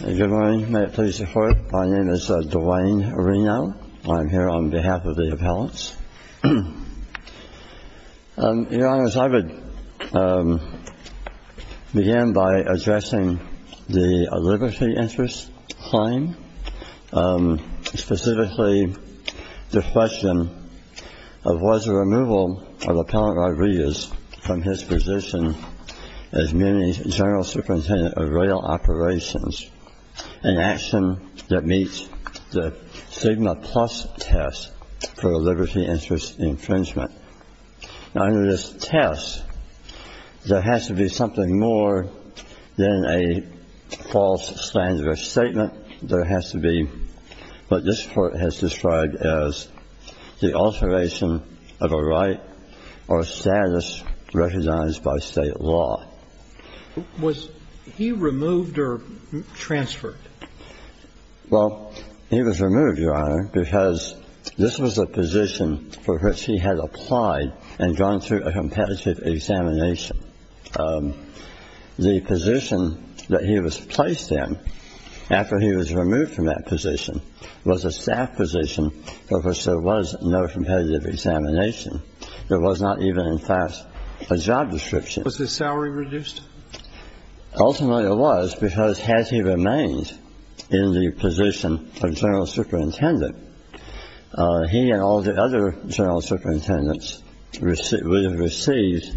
Good morning. May it please the court. My name is Dwayne Reno. I'm here on behalf of the appellants. Your Honor, I would begin by addressing the liberty interest claim, specifically the question of was the removal of Appellant Rodriguez from his position as Muni's General Superintendent of Rail Operations an action that meets the Sigma Plus test for a liberty interest infringement. Under this test, there has to be something more than a false standard of statement. There has to be what this Court has described as the alteration of a right or status recognized by State law. Was he removed or transferred? Well, he was removed, Your Honor, because this was a position for which he had applied and gone through a competitive examination. The position that he was placed in after he was removed from that position was a staff position for which there was no competitive examination. There was not even, in fact, a job description. Was his salary reduced? Ultimately, it was, because as he remained in the position of General Superintendent, he and all the other General Superintendents would have received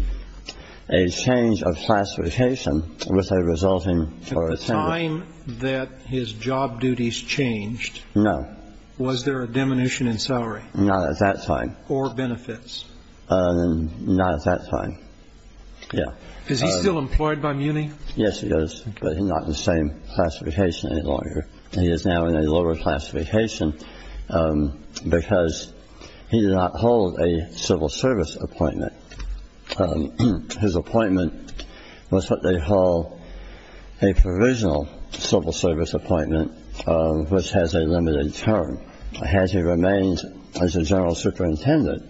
a change of classification with a resulting for attendance. At the time that his job duties changed, was there a diminution in salary? No, not at that time. Or benefits? Not at that time, yeah. Is he still employed by Muni? Yes, he is, but he's not in the same classification any longer. He is now in a lower classification because he did not hold a civil service appointment. His appointment was what they call a provisional civil service appointment, which has a limited term. As he remains as a General Superintendent,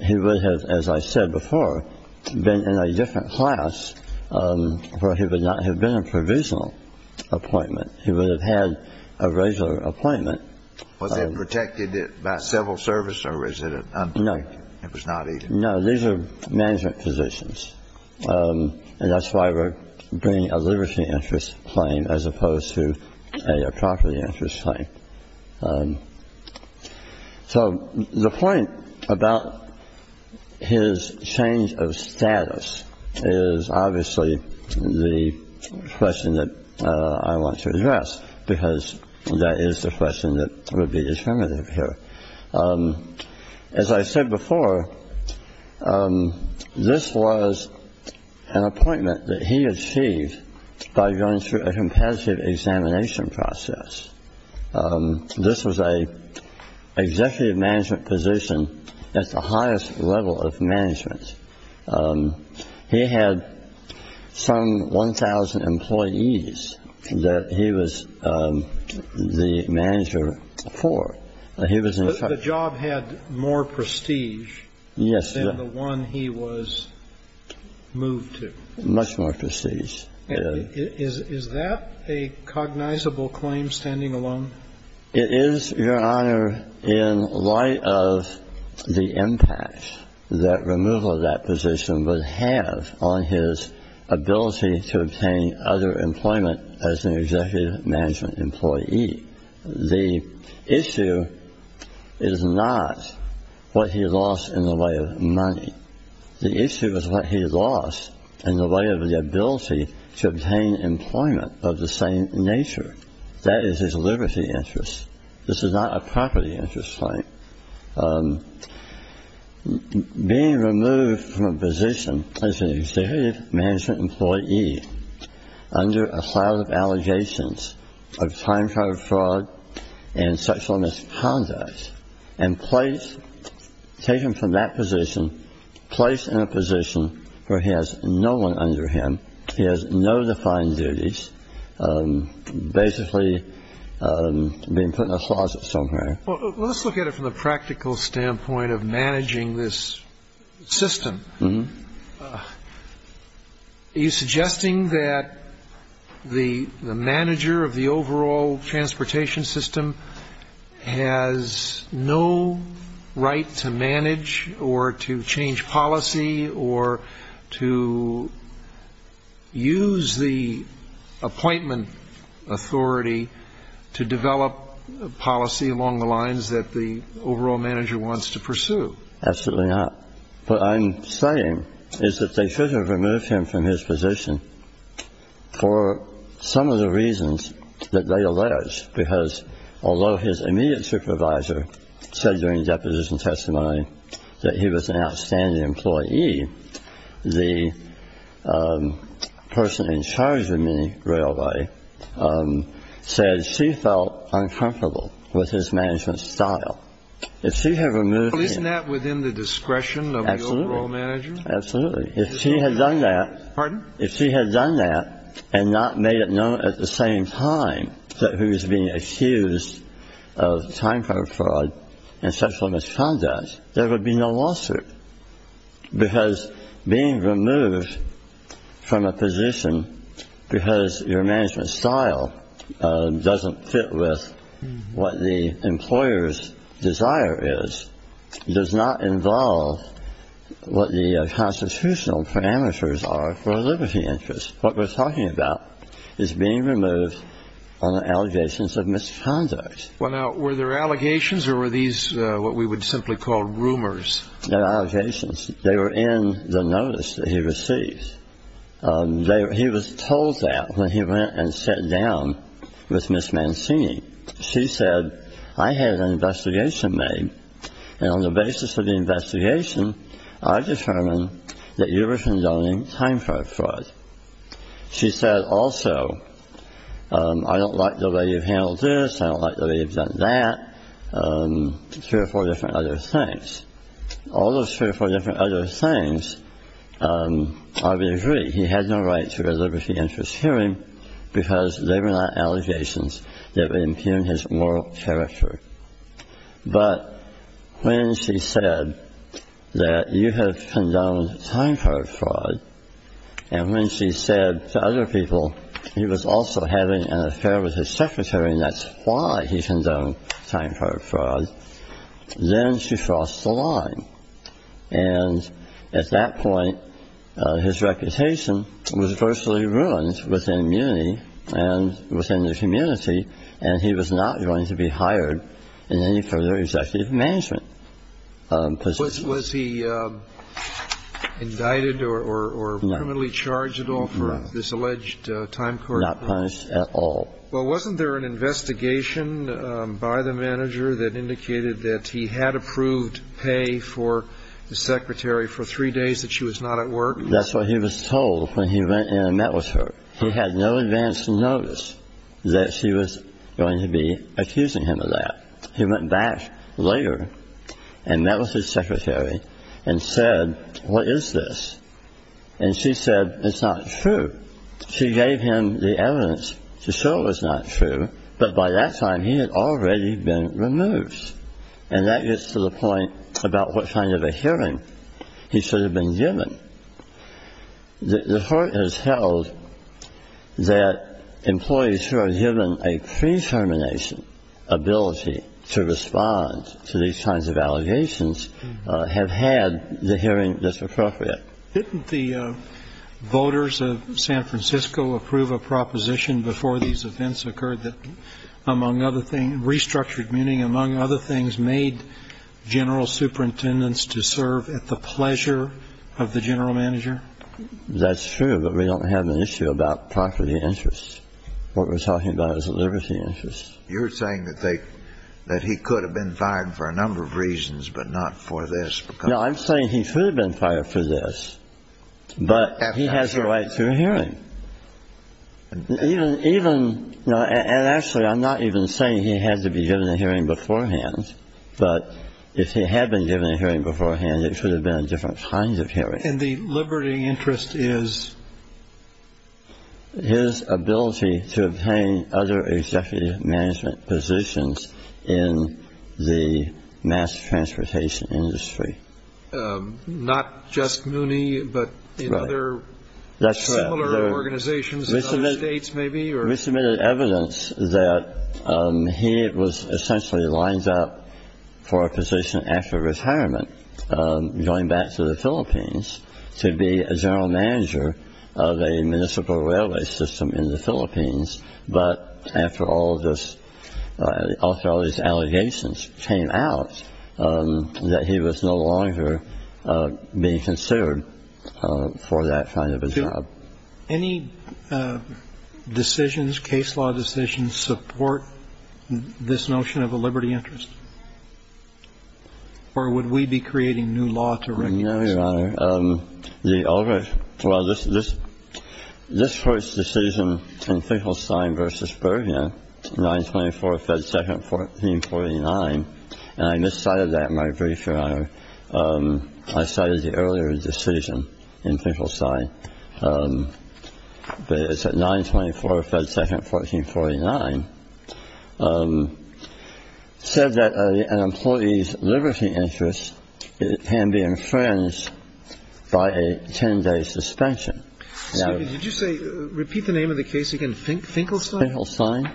he would have, as I said before, been in a different class where he would not have been a provisional appointment. He would have had a regular appointment. Was it protected by civil service or was it unprotected? No. It was not either? No, these are management positions, and that's why we're bringing a liberty interest claim as opposed to a property interest claim. So the point about his change of status is obviously the question that I want to address because that is the question that would be determinative here. As I said before, this was an appointment that he achieved by going through a competitive examination process. This was an executive management position at the highest level of management. He had some 1,000 employees that he was the manager for. The job had more prestige than the one he was moved to. Much more prestige. Is that a cognizable claim standing alone? It is, Your Honor, in light of the impact that removal of that position would have on his ability to obtain other employment as an executive management employee. The issue is not what he lost in the way of money. The issue is what he lost in the way of the ability to obtain employment of the same nature. That is his liberty interest. This is not a property interest claim. Being removed from a position as an executive management employee under a cloud of allegations of time-trial fraud and sexual misconduct and placed, taken from that position, placed in a position where he has no one under him, he has no defined duties, basically being put in a closet somewhere. Well, let's look at it from the practical standpoint of managing this system. Are you suggesting that the manager of the overall transportation system has no right to manage or to change policy or to use the appointment authority to develop policy along the lines that the overall manager wants to pursue? Absolutely not. What I'm saying is that they should have removed him from his position for some of the reasons that they allege, because although his immediate supervisor said during deposition testimony that he was an outstanding employee, the person in charge of the railway said she felt uncomfortable with his management style. Isn't that within the discretion of the overall manager? Absolutely. If she had done that and not made it known at the same time that he was being accused of time-trial fraud and sexual misconduct, there would be no lawsuit. Because being removed from a position because your management style doesn't fit with what the employer's desire is does not involve what the constitutional parameters are for a liberty interest. What we're talking about is being removed on allegations of misconduct. Were there allegations or were these what we would simply call rumors? There were allegations. They were in the notice that he received. He was told that when he went and sat down with Ms. Mancini. She said, I had an investigation made, and on the basis of the investigation, I determined that you were condoning time-trial fraud. She said, also, I don't like the way you've handled this. I don't like the way you've done that. Three or four different other things. All those three or four different other things, I would agree, he had no right to a liberty interest hearing because they were not allegations that would impugn his moral character. But when she said that you have condoned time-trial fraud, and when she said to other people he was also having an affair with his secretary, and that's why he condoned time-trial fraud, then she crossed the line. And at that point, his reputation was virtually ruined within Muni and within the community, and he was not going to be hired in any further executive management positions. Was he indicted or criminally charged at all for this alleged time-trial fraud? Not punished at all. Well, wasn't there an investigation by the manager that indicated that he had approved pay for his secretary for three days that she was not at work? That's what he was told when he went and met with her. He had no advance notice that she was going to be accusing him of that. He went back later and met with his secretary and said, what is this? And she said, it's not true. She gave him the evidence to show it was not true, but by that time he had already been removed. And that gets to the point about what kind of a hearing he should have been given. The court has held that employees who are given a pre-termination ability to respond to these kinds of allegations have had the hearing that's appropriate. Didn't the voters of San Francisco approve a proposition before these events occurred that, among other things, made general superintendents to serve at the pleasure of the general manager? That's true, but we don't have an issue about property interests. What we're talking about is liberty interests. You're saying that he could have been fired for a number of reasons, but not for this. No, I'm saying he should have been fired for this, but he has a right to a hearing. Actually, I'm not even saying he has to be given a hearing beforehand, but if he had been given a hearing beforehand, it should have been a different kind of hearing. And the liberty interest is? His ability to obtain other executive management positions in the mass transportation industry. Not just Mooney, but in other similar organizations in other states maybe? We submitted evidence that he was essentially lined up for a position after retirement, going back to the Philippines to be a general manager of a municipal railway system in the Philippines. But after all of this, after all these allegations came out, that he was no longer being considered for that kind of a job. Any decisions, case law decisions, support this notion of a liberty interest? Or would we be creating new law to recognize? No, Your Honor. The other. Well, this is this. This first decision in Finkelstein versus Bergen. Nine twenty four. Second, fourteen, forty nine. And I miscited that. My brief, Your Honor. I cited the earlier decision in Finkelstein. But it's a nine twenty four. Second, fourteen, forty nine. Said that an employee's liberty interest can be infringed by a 10 day suspension. Now, did you say repeat the name of the case? You can think Finkelstein. Finkelstein.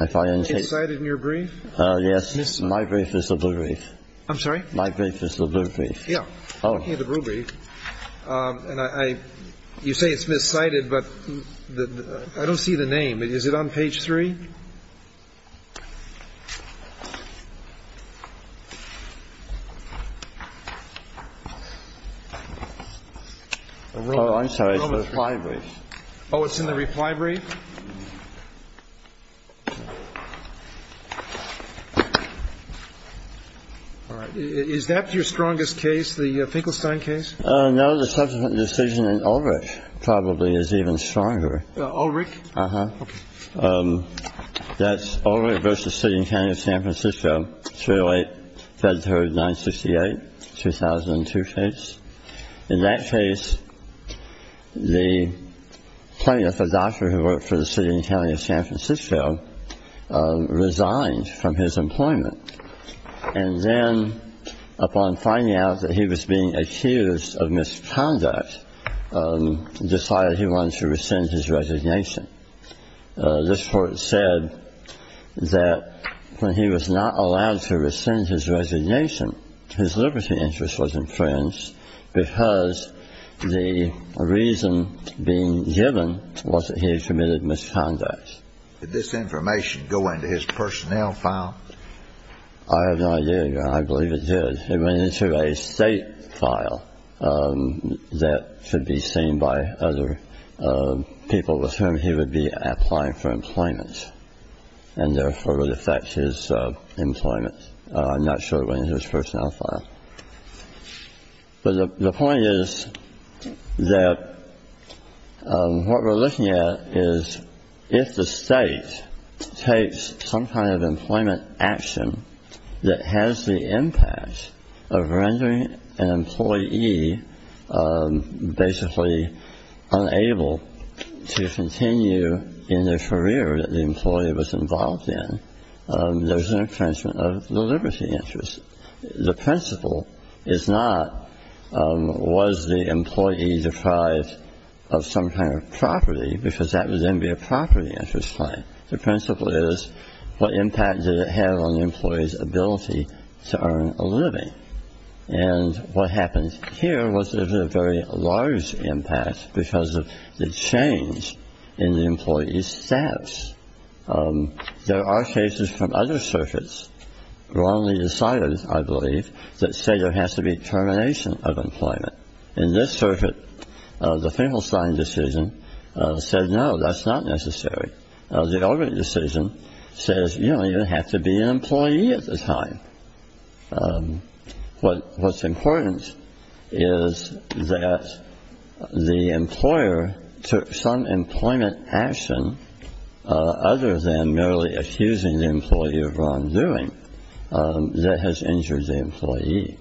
I find it cited in your brief. Yes. My brief is the blue brief. I'm sorry. My brief is the blue brief. Yeah. The blue brief. And I you say it's miscited, but I don't see the name. Is it on page three? I'm sorry. Oh, it's in the reply brief. All right. Is that your strongest case? The Finkelstein case? No. The subsequent decision in Ulrich probably is even stronger. Ulrich. Uh huh. That's Ulrich versus City and County of San Francisco. It's really fed her nine sixty eight. Two thousand and two states in that case. The plaintiff, a doctor who worked for the city and county of San Francisco, resigned from his employment. And then upon finding out that he was being accused of misconduct, decided he wanted to rescind his resignation. This court said that when he was not allowed to rescind his resignation, his liberty interest was infringed because the reason being given was that he had committed misconduct. Did this information go into his personnel file? I have no idea, Your Honor. I believe it did. It went into a state file that should be seen by other people with whom he would be applying for employment, and therefore would affect his employment. I'm not sure it went into his personnel file. But the point is that what we're looking at is if the state takes some kind of employment action that has the impact of rendering an employee basically unable to continue in their career that the employee was involved in, there's an infringement of the liberty interest. The principle is not was the employee deprived of some kind of property because that would then be a property interest claim. The principle is what impact did it have on the employee's ability to earn a living? And what happens here was there's a very large impact because of the change in the employee's status. There are cases from other circuits, wrongly decided, I believe, that say there has to be termination of employment. In this circuit, the Finkelstein decision said, no, that's not necessary. The Eldridge decision says, you know, you have to be an employee at the time. What's important is that the employer took some employment action other than merely accusing the employee of wrongdoing that has injured the employee.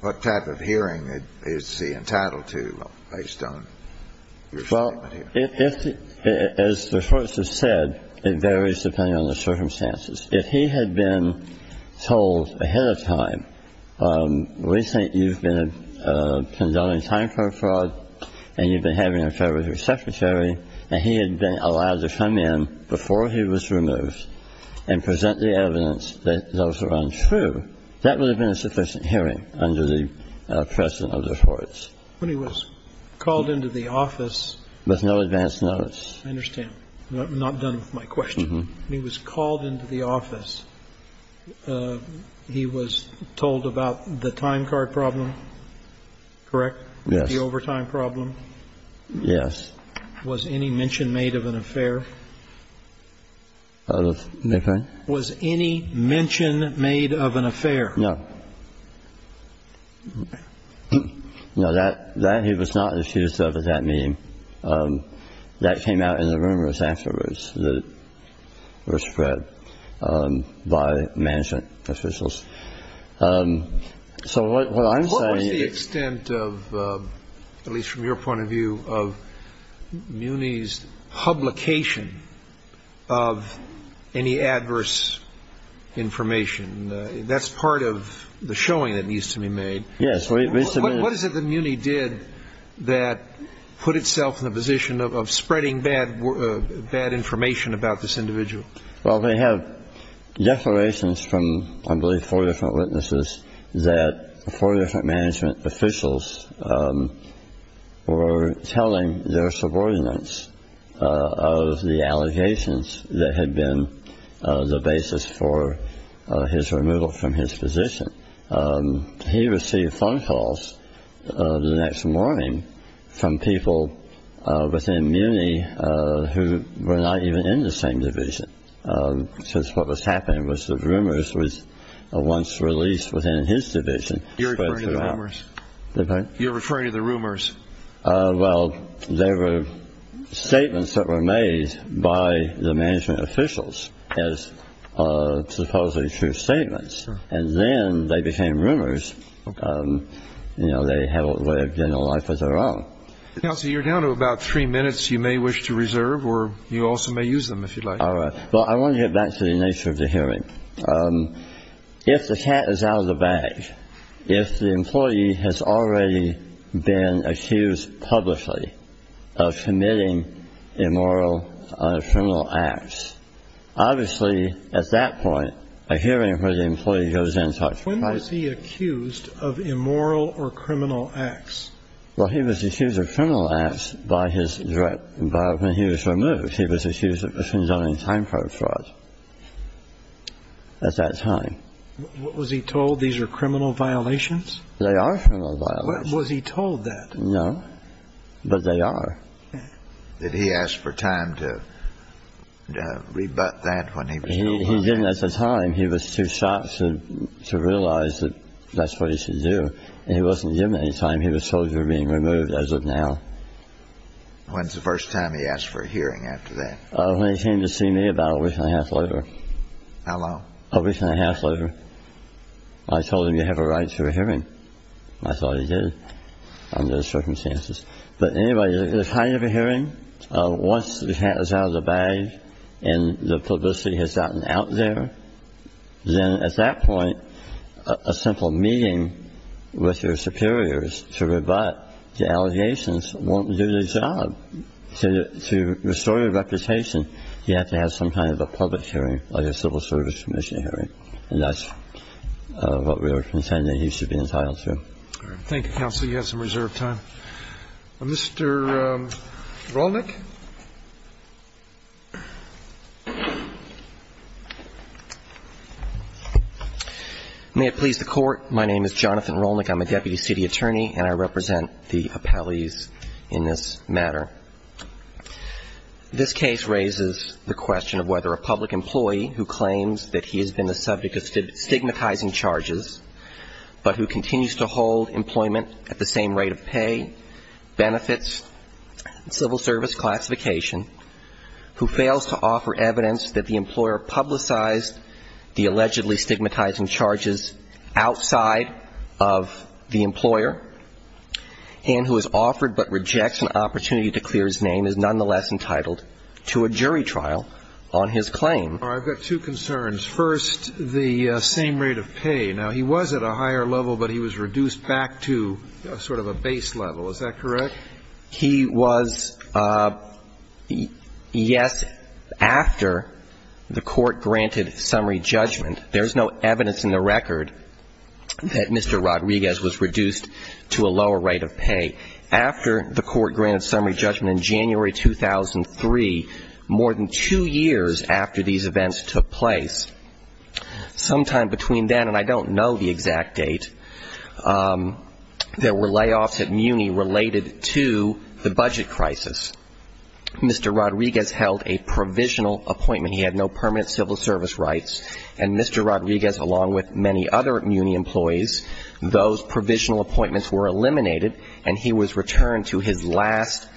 What type of hearing is he entitled to based on your statement here? Well, as the court has said, it varies depending on the circumstances. If he had been told ahead of time, we think you've been condoning time for a fraud and you've been having an affair with your secretary and he had been allowed to come in before he was removed and present the evidence that those were untrue, that would have been a sufficient hearing under the precedent of the courts. When he was called into the office. With no advance notice. I understand. Not done with my question. He was called into the office. He was told about the time card problem. Correct? Yes. The overtime problem. Yes. Was any mention made of an affair? Was any mention made of an affair? No. No, that he was not accused of at that meeting. That came out in the rumors afterwards that were spread by management officials. So what I'm saying. What was the extent of, at least from your point of view, of Muni's publication of any adverse information? That's part of the showing that needs to be made. Yes. What is it that Muni did that put itself in the position of spreading bad information about this individual? Well, they have declarations from, I believe, four different witnesses, that four different management officials were telling their subordinates of the allegations that had been the basis for his removal from his position. He received phone calls the next morning from people within Muni who were not even in the same division since what was happening was the rumors was once released within his division. You're referring to the rumors? Pardon? You're referring to the rumors. Well, they were statements that were made by the management officials as supposedly true statements. And then they became rumors. You know, they have lived in a life of their own. Kelsey, you're down to about three minutes. You may wish to reserve or you also may use them if you'd like. All right. Well, I want to get back to the nature of the hearing. If the cat is out of the bag, if the employee has already been accused publicly of committing immoral or criminal acts, obviously, at that point, a hearing where the employee goes in and talks about it. When was he accused of immoral or criminal acts? Well, he was accused of criminal acts by his direct – when he was removed. He was accused of condoning time fraud at that time. Was he told these are criminal violations? They are criminal violations. Was he told that? No, but they are. Did he ask for time to rebut that when he was removed? He didn't ask for time. He was too shocked to realize that that's what he should do. And he wasn't given any time. He was told they were being removed as of now. When's the first time he asked for a hearing after that? When he came to see me about a week and a half later. How long? A week and a half later. I told him, you have a right to a hearing. I thought he did under the circumstances. But anyway, the time of the hearing, once the hat is out of the bag and the publicity has gotten out there, then at that point a simple meeting with your superiors to rebut the allegations won't do the job. To restore your reputation, you have to have some kind of a public hearing, like a civil service commission hearing. And that's what we were contending he should be entitled to. Thank you, counsel. You have some reserved time. Mr. Rolnick. May it please the Court. My name is Jonathan Rolnick. I'm a deputy city attorney, and I represent the appellees in this matter. This case raises the question of whether a public employee who claims that he has been the subject of stigmatizing charges, but who continues to hold employment at the same rate of pay, benefits, civil service classification, who fails to offer evidence that the employer publicized the allegedly stigmatizing charges outside of the employer, and who is offered but rejects an opportunity to clear his name, is nonetheless entitled to a jury trial on his claim. I've got two concerns. First, the same rate of pay. Now, he was at a higher level, but he was reduced back to sort of a base level. Is that correct? He was, yes, after the Court granted summary judgment. There's no evidence in the record that Mr. Rodriguez was reduced to a lower rate of pay. After the Court granted summary judgment in January 2003, more than two years after these events took place, sometime between then and I don't know the exact date, there were layoffs at Muni related to the budget crisis. Mr. Rodriguez held a provisional appointment. He had no permanent civil service rights. And Mr. Rodriguez, along with many other Muni employees, those provisional appointments were eliminated, and he was returned to his last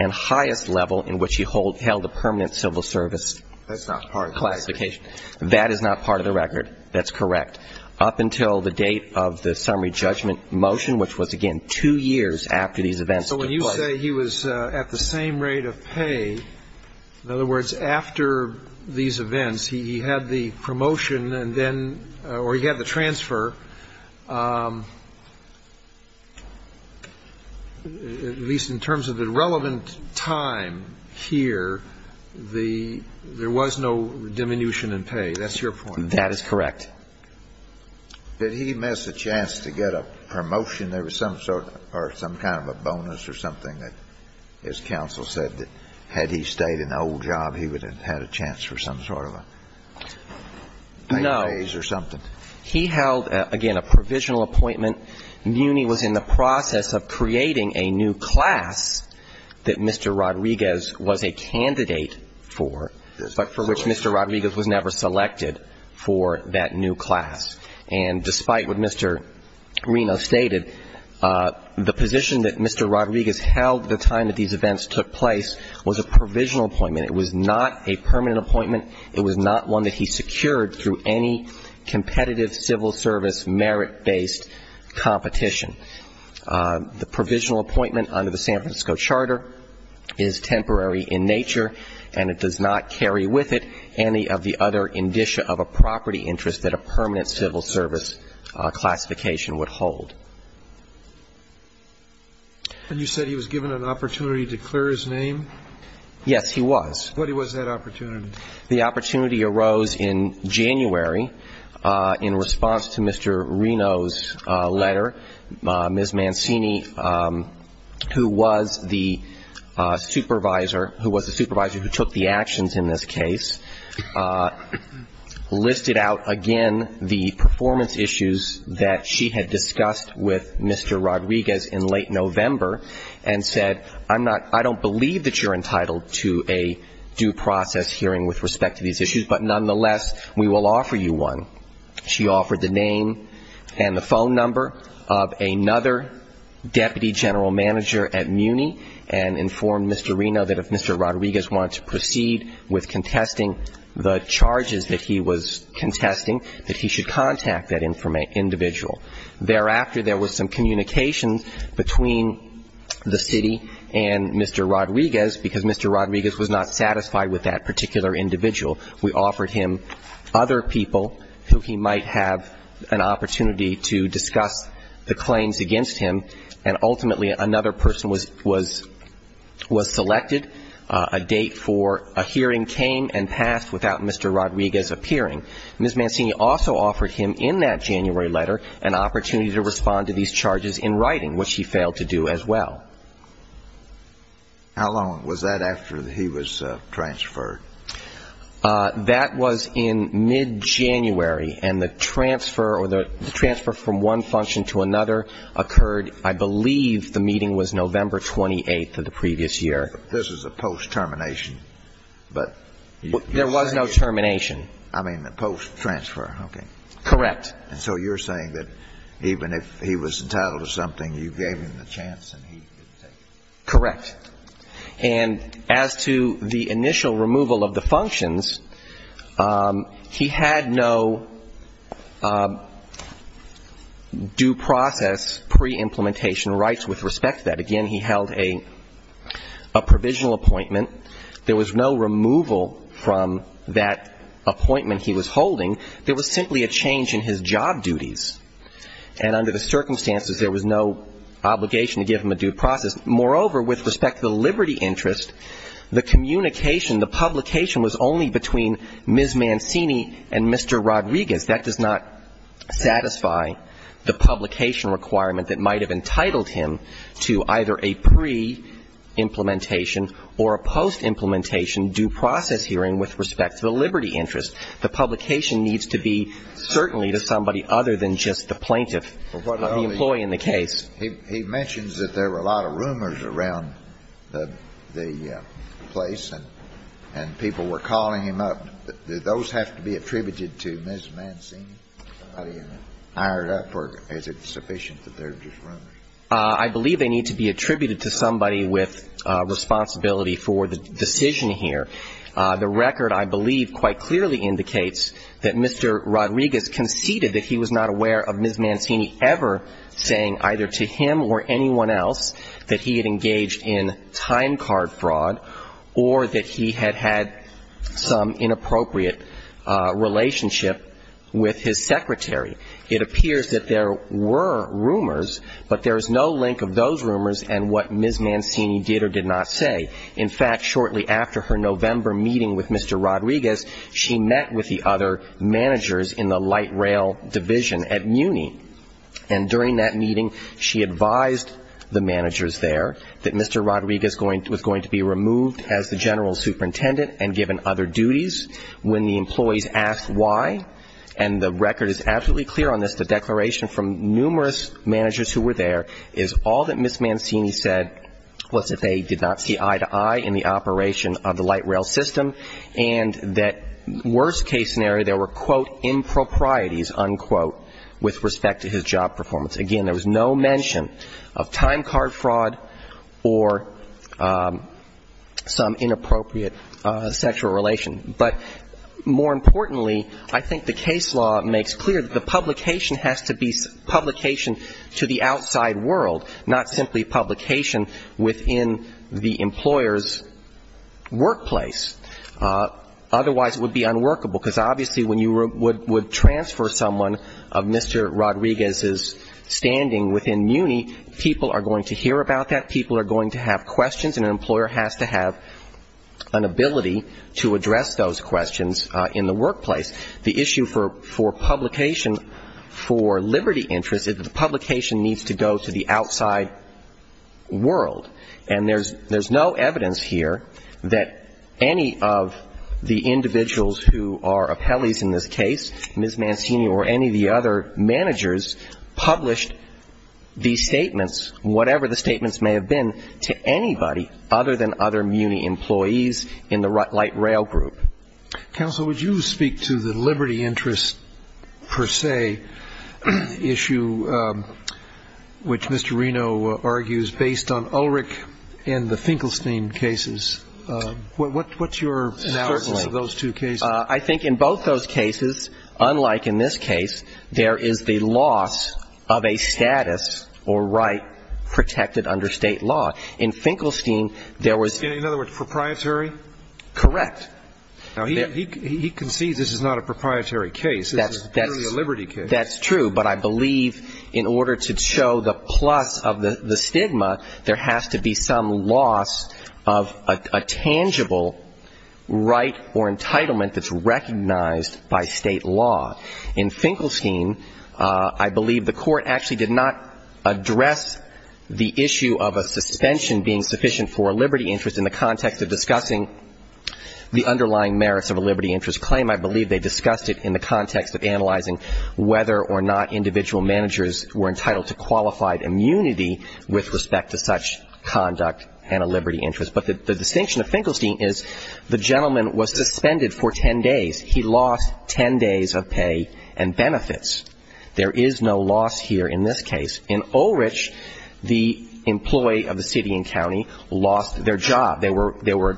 and highest level in which he held a permanent civil service classification. That is not part of the record. That's correct. Up until the date of the summary judgment motion, which was, again, two years after these events took place. So when you say he was at the same rate of pay, in other words, after these events, he had the promotion and then or he had the transfer, at least in terms of the relevant time here, there was no diminution in pay. That's your point. That is correct. Did he miss a chance to get a promotion? There was some sort of or some kind of a bonus or something that his counsel said that had he stayed in the old job, he would have had a chance for some sort of a raise or something. No. He held, again, a provisional appointment. Muni was in the process of creating a new class that Mr. Rodriguez was a candidate for, but for which Mr. Rodriguez was never selected for that new class. And despite what Mr. Reno stated, the position that Mr. Rodriguez held at the time that these events took place was a provisional appointment. It was not a permanent appointment. It was not one that he secured through any competitive civil service merit-based competition. The provisional appointment under the San Francisco Charter is temporary in nature and it does not carry with it any of the other indicia of a property interest that a permanent civil service classification would hold. And you said he was given an opportunity to clear his name? Yes, he was. What was that opportunity? The opportunity arose in January in response to Mr. Reno's letter. Ms. Mancini, who was the supervisor who took the actions in this case, listed out again the performance issues that she had discussed with Mr. Rodriguez in late November and said, I don't believe that you're entitled to a due process hearing with respect to these issues, but nonetheless we will offer you one. She offered the name and the phone number of another deputy general manager at MUNI and informed Mr. Reno that if Mr. Rodriguez wanted to proceed with contesting the charges that he was contesting, that he should contact that individual. Thereafter, there was some communication between the city and Mr. Rodriguez, because Mr. Rodriguez was not satisfied with that particular individual. We offered him other people who he might have an opportunity to discuss the claims against him, and ultimately another person was selected. A date for a hearing came and passed without Mr. Rodriguez appearing. Ms. Mancini also offered him in that January letter an opportunity to respond to these charges in writing, which he failed to do as well. How long was that after he was transferred? That was in mid-January, and the transfer or the transfer from one function to another occurred, I believe, the meeting was November 28th of the previous year. This is a post-termination, but you're saying you're going to do it? There was no termination. I mean the post-transfer, okay. Correct. And so you're saying that even if he was entitled to something, you gave him the chance and he didn't take it? Correct. And as to the initial removal of the functions, he had no due process pre-implementation rights with respect to that. Again, he held a provisional appointment. There was no removal from that appointment he was holding. There was simply a change in his job duties, and under the circumstances, there was no obligation to give him a due process. Moreover, with respect to the liberty interest, the communication, the publication was only between Ms. Mancini and Mr. Rodriguez. That does not satisfy the publication requirement that might have entitled him to either a pre-implementation or a post-implementation due process hearing with respect to the liberty interest. The publication needs to be certainly to somebody other than just the plaintiff, the employee in the case. He mentions that there were a lot of rumors around the place, and people were calling him up. Do those have to be attributed to Ms. Mancini? Is it sufficient that they're just rumors? I believe they need to be attributed to somebody with responsibility for the decision here. The record, I believe, quite clearly indicates that Mr. Rodriguez conceded that he was not aware of Ms. Mancini ever saying either to him or anyone else that he had engaged in time card fraud or that he had had some inappropriate relationship with his secretary. It appears that there were rumors, but there is no link of those rumors and what Ms. Mancini did or did not say. In fact, shortly after her November meeting with Mr. Rodriguez, she met with the other managers in the light rail division at Muni. And during that meeting, she advised the managers there that Mr. Rodriguez was going to be removed as the general superintendent and given other duties. When the employees asked why, and the record is absolutely clear on this, the declaration from numerous managers who were there is all that Ms. Mancini said was that they did not see eye to eye in the operation of the light rail system, and that worst case scenario, there were, quote, improprieties, unquote, with respect to his job performance. Again, there was no mention of time card fraud or some inappropriate sexual relation. But more importantly, I think the case law makes clear that the publication has to be publication to the outside world, not simply publication within the employer's workplace. Otherwise, it would be unworkable, because obviously when you would transfer someone of Mr. Rodriguez's standing within Muni, people are going to hear about that, people are going to have questions, and an employer has to have an ability to address those questions in the workplace. The issue for publication for liberty interests is that the publication needs to go to the outside world. And there's no evidence here that any of the individuals who are appellees in this case, Ms. Mancini or any of the other managers published these statements, whatever the statements may have been, to anybody other than other Muni employees in the light rail group. Counsel, would you speak to the liberty interests per se issue, which Mr. Reno argues based on Ulrich and the Finkelstein cases? What's your analysis of those two cases? Certainly. I think in both those cases, unlike in this case, there is the loss of a status or right protected under State law. In Finkelstein, there was ---- In other words, proprietary? Correct. Now, he concedes this is not a proprietary case. This is purely a liberty case. That's true. But I believe in order to show the plus of the stigma, there has to be some loss of a tangible right or entitlement that's recognized by State law. In Finkelstein, I believe the Court actually did not address the issue of a suspension being sufficient for a liberty interest in the context of discussing the underlying merits of a liberty interest claim. I believe they discussed it in the context of analyzing whether or not individual managers were entitled to qualified immunity with respect to such conduct and a liberty interest. But the distinction of Finkelstein is the gentleman was suspended for ten days. He lost ten days of pay and benefits. There is no loss here in this case. In Ulrich, the employee of the city and county lost their job. They were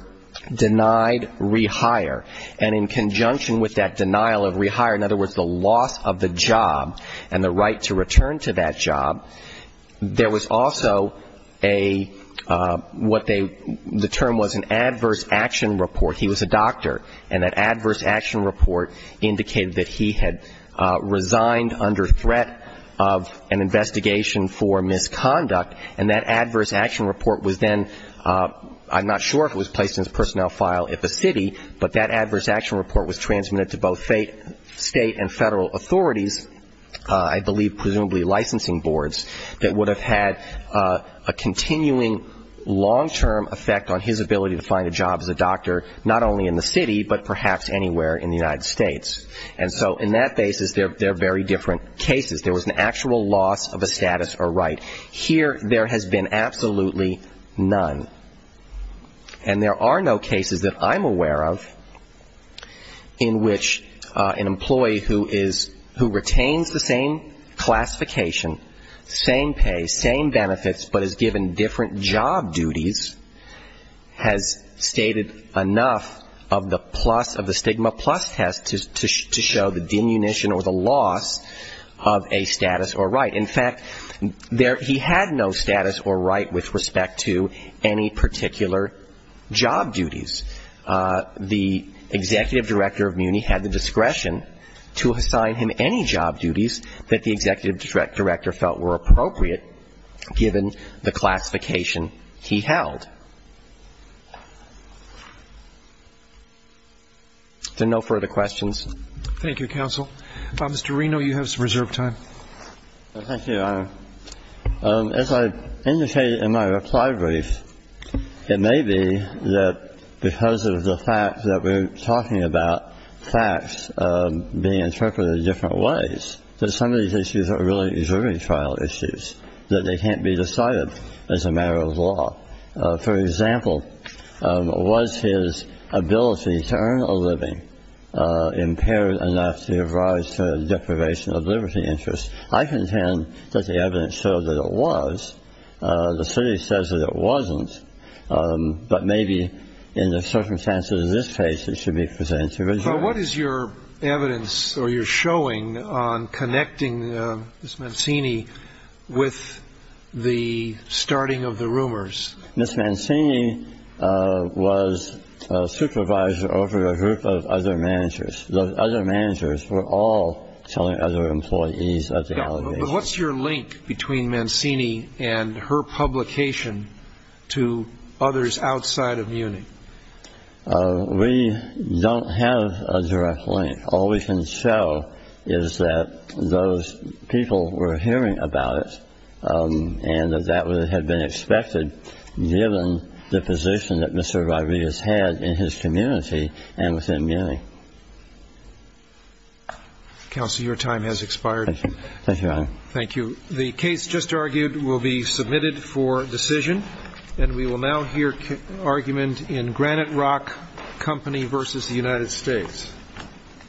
denied rehire. And in conjunction with that denial of rehire, in other words, the loss of the job and the right to return to that job, there was also a what they the term was an adverse action report. He was a doctor. And that adverse action report indicated that he had resigned under threat of an investigation for misconduct. And that adverse action report was then, I'm not sure if it was placed in his personnel file at the city, but that adverse action report was transmitted to both State and Federal authorities, I believe presumably licensing boards, that would have had a continuing long-term effect on his ability to find a job as a doctor, not only in the city but perhaps anywhere in the United States. And so in that basis, there are very different cases. There was an actual loss of a status or right. Here there has been absolutely none. And there are no cases that I'm aware of in which an employee who retains the same classification, same pay, same benefits, but is given different job duties, has stated enough of the stigma plus test to show the denunciation or the loss of a status or right. In fact, he had no status or right with respect to any particular job duties. The executive director of MUNI had the discretion to assign him any job duties that the executive director felt were appropriate, given the classification he held. Is there no further questions? Thank you, counsel. Mr. Reno, you have some reserved time. Thank you, Your Honor. As I indicated in my reply brief, it may be that because of the fact that we're talking about facts being interpreted in different ways, that some of these issues are really observing trial issues, that they can't be decided as a matter of law. For example, was his ability to earn a living impaired enough to have rise to deprivation of liberty interest? I contend that the evidence shows that it was. The city says that it wasn't. But maybe in the circumstances of this case, it should be presented to the judge. What is your evidence or your showing on connecting Ms. Mancini with the starting of the rumors? Ms. Mancini was a supervisor over a group of other managers. The other managers were all telling other employees of the allegations. What's your link between Mancini and her publication to others outside of MUNI? We don't have a direct link. All we can show is that those people were hearing about it, and that that would have been expected given the position that Mr. Rodriguez had in his community and within MUNI. Counsel, your time has expired. Thank you, Your Honor. Thank you. The case just argued will be submitted for decision. And we will now hear argument in Granite Rock Company v. The United States.